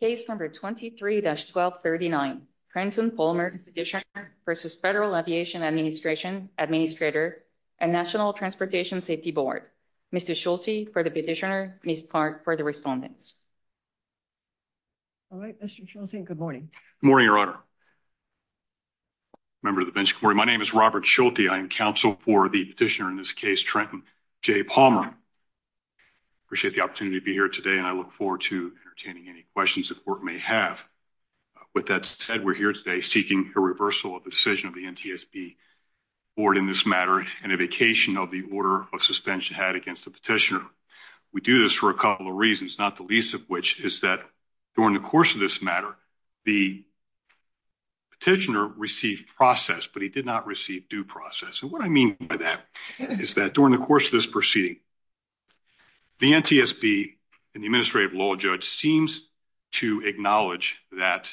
Case number 23-1239 Trenton Palmer Petitioner versus Federal Aviation Administration Administrator and National Transportation Safety Board. Mr. Schulte for the petitioner, Ms. Clark for the respondents. Good morning. Good morning, Your Honor. Member of the bench, good morning. My name is Robert Schulte. I am counsel for the petitioner in this case, Trenton J. Palmer. I appreciate the entertaining any questions the court may have. With that said, we're here today seeking a reversal of the decision of the NTSB board in this matter and a vacation of the order of suspension had against the petitioner. We do this for a couple of reasons, not the least of which is that during the course of this matter, the petitioner received process, but he did not receive due process. And what I mean by that is that during the course of this proceeding, the NTSB and the Administrative Law Judge seems to acknowledge that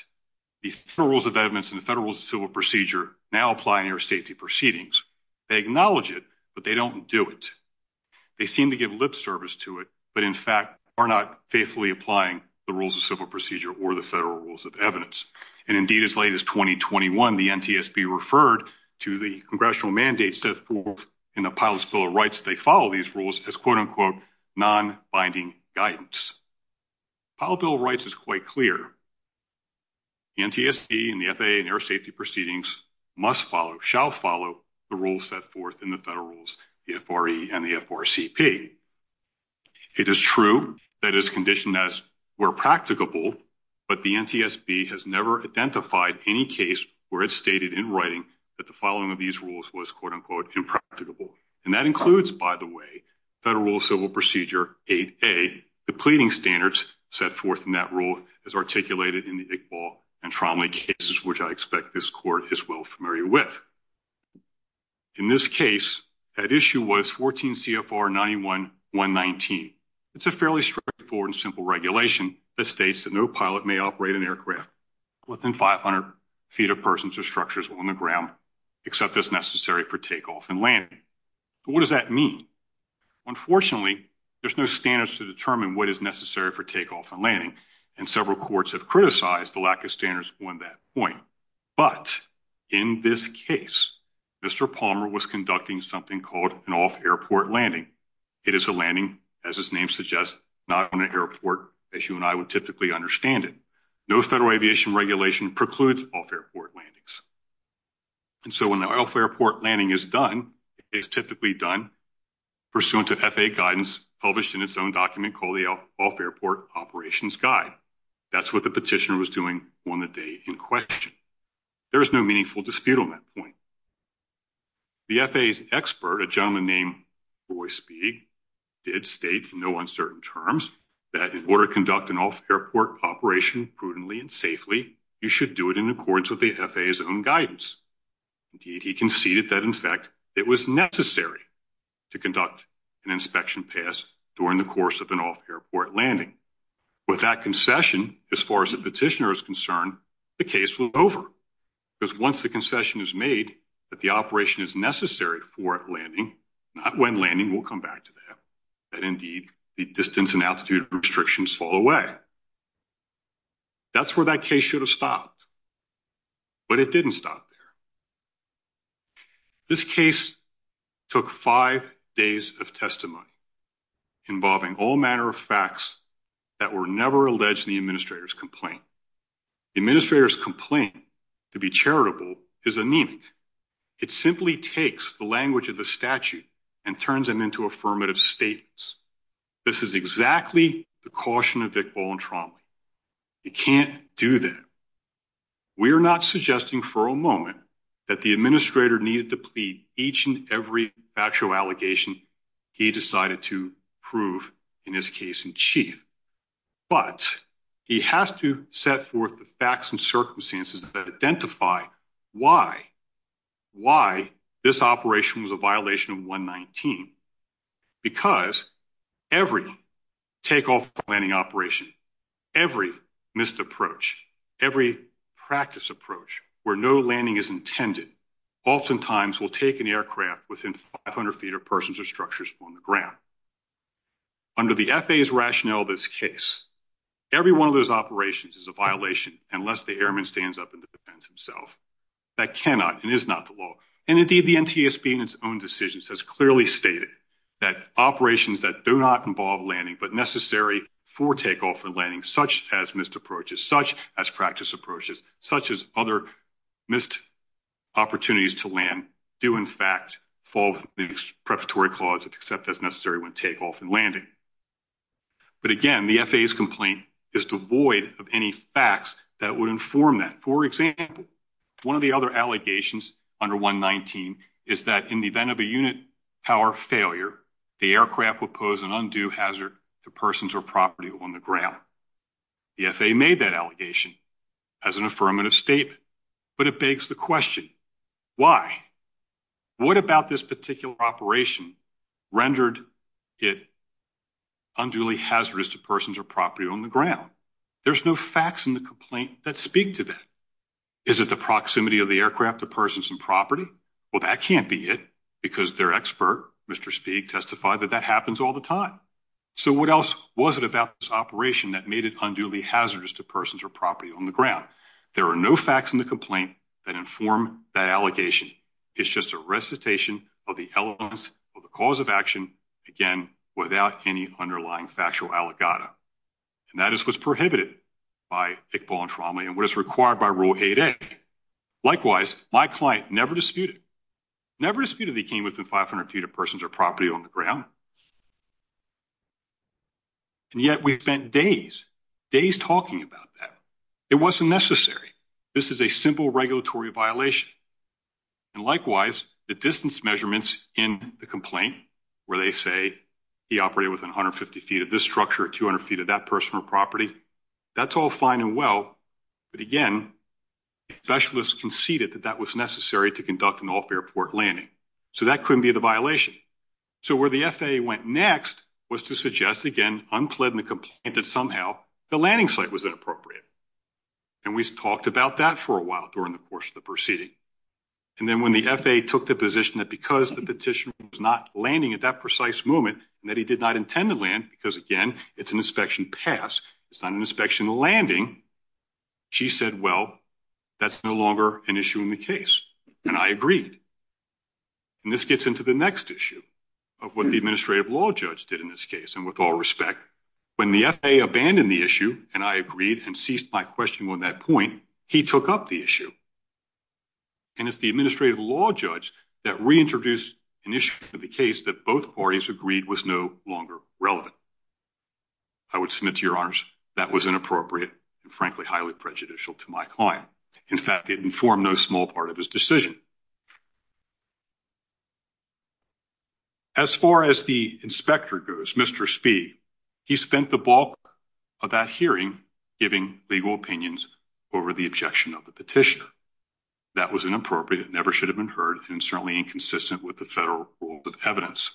the Federal Rules of Evidence and the Federal Rules of Civil Procedure now apply in air safety proceedings. They acknowledge it, but they don't do it. They seem to give lip service to it, but in fact are not faithfully applying the Rules of Civil Procedure or the Federal Rules of Evidence. And indeed, as late as 2021, the NTSB referred to the congressional mandate set forth in the Pilots' Bill of Rights that they follow these non-binding guidance. Pilots' Bill of Rights is quite clear. The NTSB and the FAA in air safety proceedings must follow, shall follow, the rules set forth in the Federal Rules, the FRE and the FRCP. It is true that it is conditioned as were practicable, but the NTSB has never identified any case where it stated in writing that the following of these rules was quote-unquote impracticable. And that in Federal Rules of Civil Procedure 8A, the pleading standards set forth in that rule is articulated in the Iqbal and Tromley cases, which I expect this court is well familiar with. In this case, at issue was 14 CFR 91-119. It's a fairly straightforward and simple regulation that states that no pilot may operate an aircraft within 500 feet of persons or structures on the ground except as necessary for takeoff and landing. What does that mean? Unfortunately, there's no standards to determine what is necessary for takeoff and landing, and several courts have criticized the lack of standards on that point. But, in this case, Mr. Palmer was conducting something called an off-airport landing. It is a landing, as its name suggests, not on an airport as you and I would typically understand it. No Federal Aviation Regulation precludes off-airport landings. And so when the off-airport landing is done, it is typically done pursuant to FAA guidance published in its own document called the Off-Airport Operations Guide. That's what the petitioner was doing on the day in question. There is no meaningful dispute on that point. The FAA's expert, a gentleman named Roy Speig, did state in no uncertain terms that in order to conduct an off-airport operation prudently and safely, you should do it in accordance with the FAA's own guidance. Indeed, he conceded that, in fact, it was necessary to conduct an inspection pass during the course of an off-airport landing. With that concession, as far as the petitioner is concerned, the case flew over. Because once the concession is made that the operation is necessary for landing, not when landing, we'll come back to that, that indeed the distance and altitude restrictions fall away. That's where that case should have stopped. But it didn't stop there. This case took five days of testimony involving all manner of facts that were never alleged in the Administrator's complaint. The Administrator's complaint to be charitable is anemic. It simply takes the language of the statute and turns them into affirmative statements. This is exactly the caution of Vick, Ball, and Tromley. You can't do that. We are not suggesting for a moment that the Administrator needed to plead each and every factual allegation he decided to prove in his case in chief. But he has to set forth the facts and circumstances that identify why, why this operation was a violation of 119. Because every takeoff and landing operation, every missed approach, every practice approach where no landing is intended, oftentimes will take an aircraft within 500 feet of persons or structures on the ground. Under the FAA's rationale of this case, every one of those operations is a violation unless the airman stands up and defends himself. That cannot and is not the law. And indeed the NTSB in its own decisions has clearly stated that operations that do not involve landing but necessary for takeoff and landing, such as missed approaches, such as practice approaches, such as other missed opportunities to land, do in fact fall within the preparatory clause of accept as necessary when takeoff and landing. But again, the FAA's complaint is devoid of any facts that would inform that. For example, one of the other allegations under 119 is that in the event of a unit power failure, the aircraft would pose an undue hazard to persons or property on the ground. The FAA made that allegation as an affirmative statement. But it begs the question, why? What about this particular operation rendered it unduly hazardous to persons or property on the ground? There's no facts in the complaint that speak to that. Is it the proximity of the aircraft to persons and property? Well, that can't be it because their expert, Mr. Spieg, testified that that happens all the time. So what else was it about this operation that made it unduly hazardous to persons or property on the ground? There are no facts in the complaint that inform that allegation. It's just a recitation of the elements of the cause of action, again, without any underlying factual allegata. And that is what's prohibited by Iqbal and Tromley and what is required by Rule 8A. Likewise, my client never disputed, never disputed that he came within 500 feet of persons or property on the ground. And yet we spent days, days talking about that. It wasn't necessary. This is a simple regulatory violation. And likewise, the distance measurements in the complaint where they say he operated within 150 feet of this structure, 200 feet of that person or property, that's all fine and well. But, again, specialists conceded that that was necessary to conduct an off-airport landing. So that couldn't be the violation. So where the FAA went next was to suggest, again, unplead in the complaint that somehow the landing site was inappropriate. And we talked about that for a while during the course of the proceeding. And then when the FAA took the position that because the petitioner was not landing at that precise moment and that he did not intend to land because, again, it's an inspection pass, it's not an inspection landing, she said, well, that's no longer an issue in the case. And I agreed. And this gets into the next issue of what the administrative law judge did in this case. And with all respect, when the FAA abandoned the issue and I agreed and ceased my question on that point, he took up the issue. And it's the administrative law judge that reintroduced an issue to the case that both parties agreed was no longer relevant. I would submit to your honors that was inappropriate and, frankly, highly prejudicial to my client. In fact, it informed no small part of his decision. As far as the inspector goes, Mr. Speed, he spent the bulk of that hearing giving legal opinions over the objection of the petitioner. That was inappropriate. It never should have been heard and certainly inconsistent with the federal rules of evidence.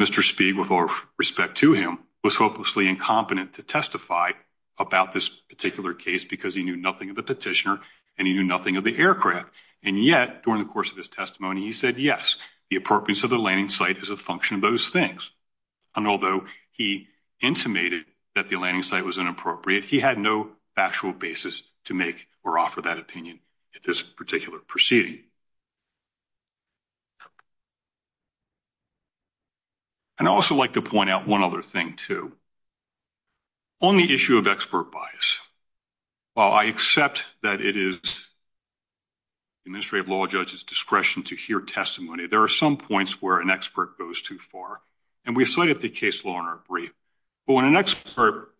Mr. Speed, with all respect to him, was hopelessly incompetent to testify about this particular case because he knew nothing of the petitioner and he knew nothing of the aircraft. And yet, during the course of his testimony, he said, yes, the appropriateness of the landing site is a function of those things. And although he intimated that the landing site was inappropriate, he had no factual basis to make or offer that opinion at this particular proceeding. And I'd also like to point out one other thing, too. On the issue of expert bias, while I accept that it is the administrative law judge's discretion to hear testimony, there are some points where an expert goes too far. And we cited the case law in our brief. But when an expert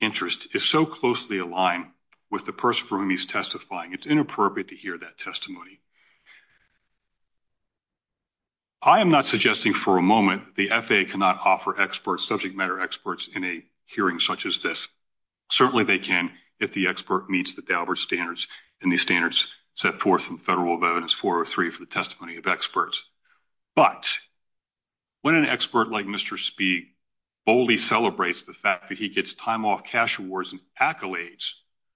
interest is so closely aligned with the person for whom he's testifying, it's inappropriate to hear that testimony. I am not suggesting for a moment the FAA cannot offer subject matter experts in a hearing such as this. Certainly they can if the expert meets the Daubert standards and the standards set forth in the Federal Rule of Evidence 403 for the testimony of experts. But when an expert like Mr. Speed boldly celebrates the fact that he gets time off cash awards and accolades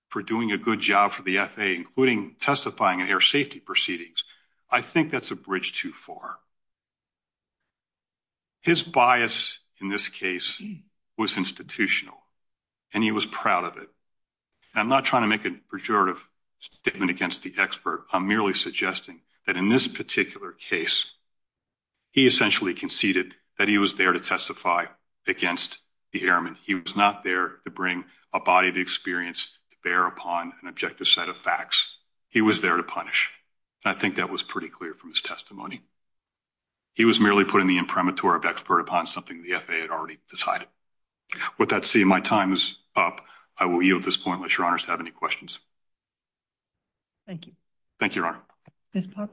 for doing a good job for the FAA, including testifying in air safety proceedings, I think that's a bridge too far. His bias in this case was institutional, and he was proud of it. And I'm not trying to make a pejorative statement against the expert. I'm merely suggesting that in this particular case, he essentially conceded that he was there to testify against the airman. He was not there to bring a body of experience to bear upon an objective set of facts. He was there to punish, and I think that was pretty clear from his testimony. He was merely putting the imprimatur of expert upon something the FAA had already decided. With that said, my time is up. I will yield at this point unless Your Honors have any questions. Thank you. Thank you, Your Honor. Ms. Puck?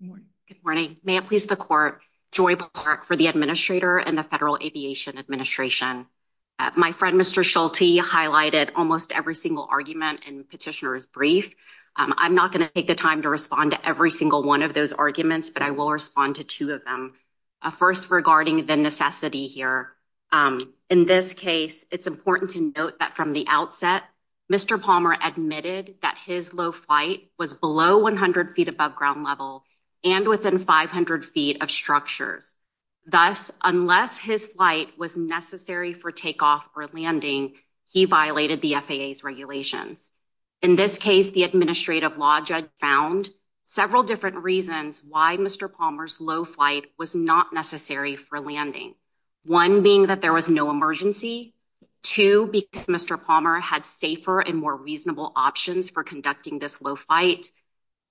Good morning. Good morning. May it please the Court, Joy Park for the Administrator and the Federal Aviation Administration. My friend, Mr. Schulte, highlighted almost every single argument in Petitioner's brief. I'm not going to take the time to respond to every single one of those arguments, but I will respond to two of them. First, regarding the necessity here, in this case, it's important to note that from the outset, Mr. Palmer admitted that his low flight was below 100 feet above ground level and within 500 feet of structures. Thus, unless his flight was necessary for takeoff or landing, he violated the FAA's regulations. In this case, the Administrative Law Judge found several different reasons why Mr. Palmer's low flight was not necessary for landing, one being that there was no emergency, two, because Mr. Palmer had safer and more reasonable options for conducting this low flight,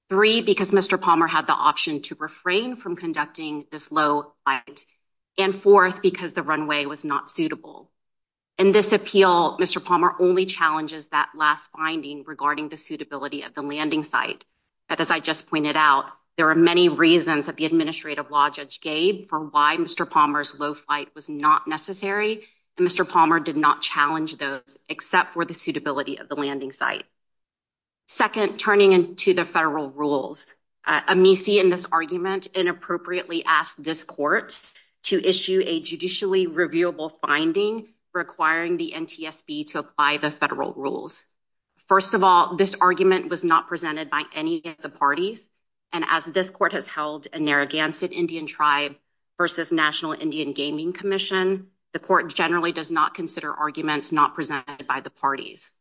three, because Mr. Palmer had the option to refrain from conducting this low flight, and fourth, because the runway was not suitable. In this appeal, Mr. Palmer only challenges that last finding regarding the suitability of the landing site. As I just pointed out, there are many reasons that the Administrative Law Judge gave for why Mr. Palmer's low flight was not necessary, and Mr. Palmer did not challenge those except for the suitability of the landing site. Second, turning to the federal rules. Amici, in this argument, inappropriately asked this court to issue a judicially reviewable finding requiring the NTSB to apply the federal rules. First of all, this argument was not presented by any of the parties, and as this court has held a Narragansett Indian tribe versus National Indian Gaming Commission, the court generally does not consider arguments not presented by the parties.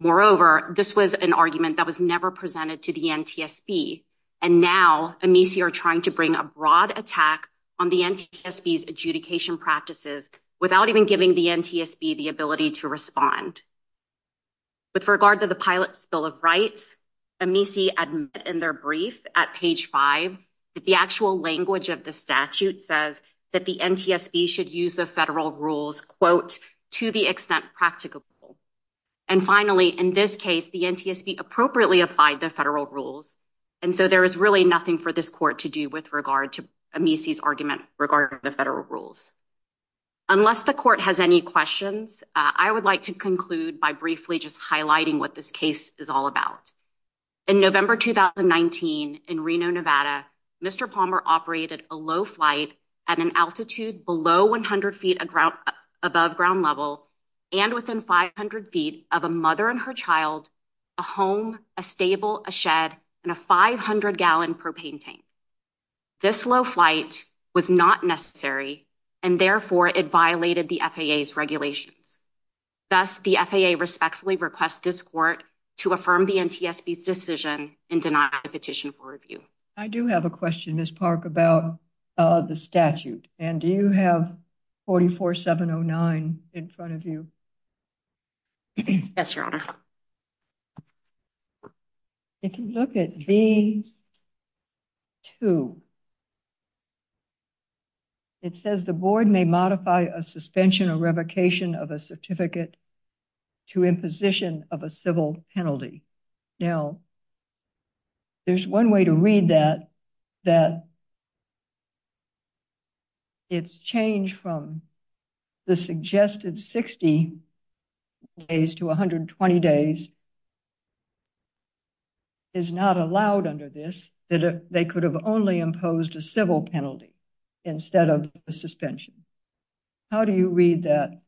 Moreover, this was an argument that was never presented to the NTSB, and now Amici are trying to bring a broad attack on the NTSB's adjudication practices without even giving the NTSB the ability to respond. With regard to the Pilot's Bill of Rights, Amici admitted in their brief at page 5 that the actual language of the statute says that the NTSB should use the federal rules, quote, to the extent practicable. And finally, in this case, the NTSB appropriately applied the federal rules, and so there is really nothing for this court to do with regard to Amici's argument regarding the federal rules. Unless the court has any questions, I would like to conclude by briefly just highlighting what this case is all about. In November 2019 in Reno, Nevada, Mr. Palmer operated a low flight at an altitude below 100 feet above ground level and within 500 feet of a mother and her child, a home, a stable, a shed, and a 500-gallon propane tank. This low flight was not necessary, and therefore it violated the FAA's regulations. Thus, the FAA respectfully requests this court to affirm the NTSB's decision and deny the petition for review. I do have a question, Ms. Park, about the statute, and do you have 44709 in front of you? Yes, Your Honor. If you look at V2, it says the board may modify a suspension or revocation of a certificate to imposition of a civil penalty. Now, there's one way to read that, that it's changed from the suggested 60 days to 120 days. It's not allowed under this that they could have only imposed a civil penalty instead of a suspension. How do you read that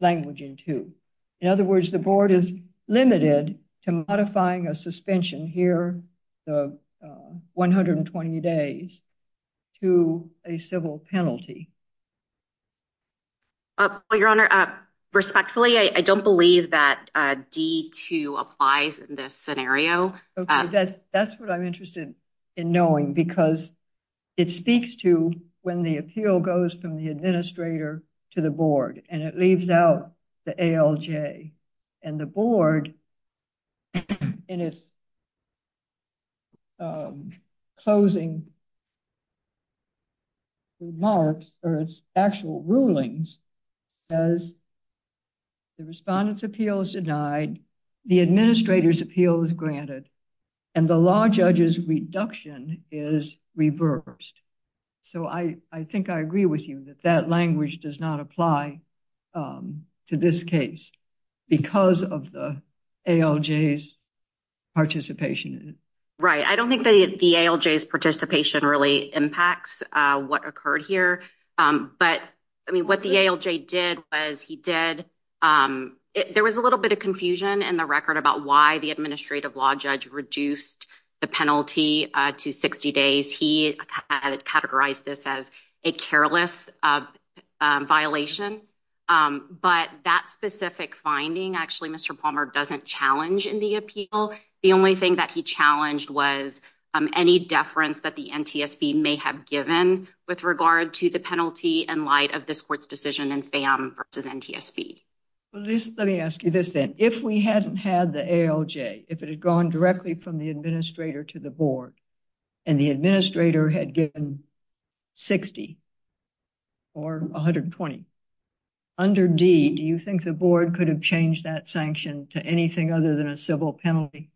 language in V2? In other words, the board is limited to modifying a suspension here, the 120 days, to a civil penalty. Your Honor, respectfully, I don't believe that D2 applies in this scenario. That's what I'm interested in knowing, because it speaks to when the appeal goes from the administrator to the board, and it leaves out the ALJ. And the board, in its closing remarks, or its actual rulings, says the respondent's appeal is denied, the administrator's appeal is granted, and the law judge's reduction is reversed. So I think I agree with you that that language does not apply to this case because of the ALJ's participation. Right. I don't think the ALJ's participation really impacts what occurred here. But, I mean, what the ALJ did was he did – there was a little bit of confusion in the record about why the administrative law judge reduced the penalty to 60 days. He categorized this as a careless violation. But that specific finding, actually, Mr. Palmer doesn't challenge in the appeal. The only thing that he challenged was any deference that the NTSB may have given with regard to the penalty in light of this court's decision in FAM versus NTSB. Let me ask you this then. If we hadn't had the ALJ, if it had gone directly from the administrator to the board, and the administrator had given 60 or 120, under D, do you think the board could have changed that sanction to anything other than a civil penalty?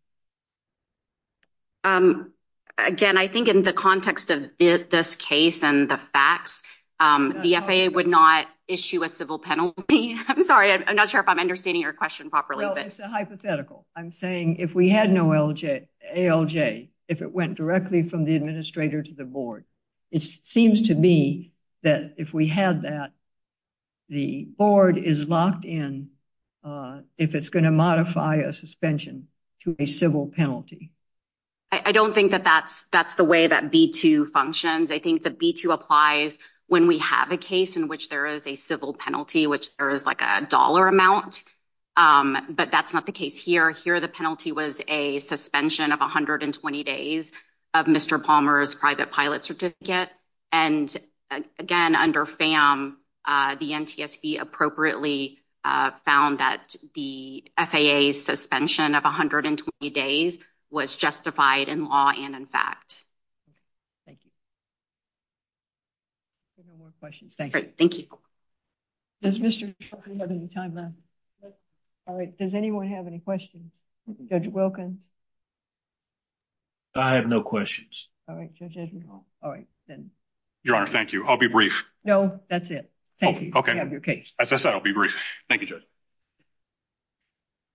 Again, I think in the context of this case and the facts, the FAA would not issue a civil penalty. I'm sorry, I'm not sure if I'm understanding your question properly. Well, it's a hypothetical. I'm saying if we had no ALJ, if it went directly from the administrator to the board, it seems to me that if we had that, the board is locked in if it's going to modify a suspension to a civil penalty. I don't think that that's the way that B-2 functions. I think the B-2 applies when we have a case in which there is a civil penalty, which there is like a dollar amount. But that's not the case here. Here, the penalty was a suspension of 120 days of Mr. Palmer's private pilot certificate. And again, under FAM, the NTSB appropriately found that the FAA's suspension of 120 days was justified in law and in fact. Thank you. Any more questions? Thank you. Great. Thank you. Does Mr. Trump have any time left? All right. Does anyone have any questions? Judge Wilkins? I have no questions. All right, Judge Edgement Hall. All right, then. Your Honor, thank you. I'll be brief. No, that's it. Thank you. You have your case. As I said, I'll be brief. Thank you, Judge.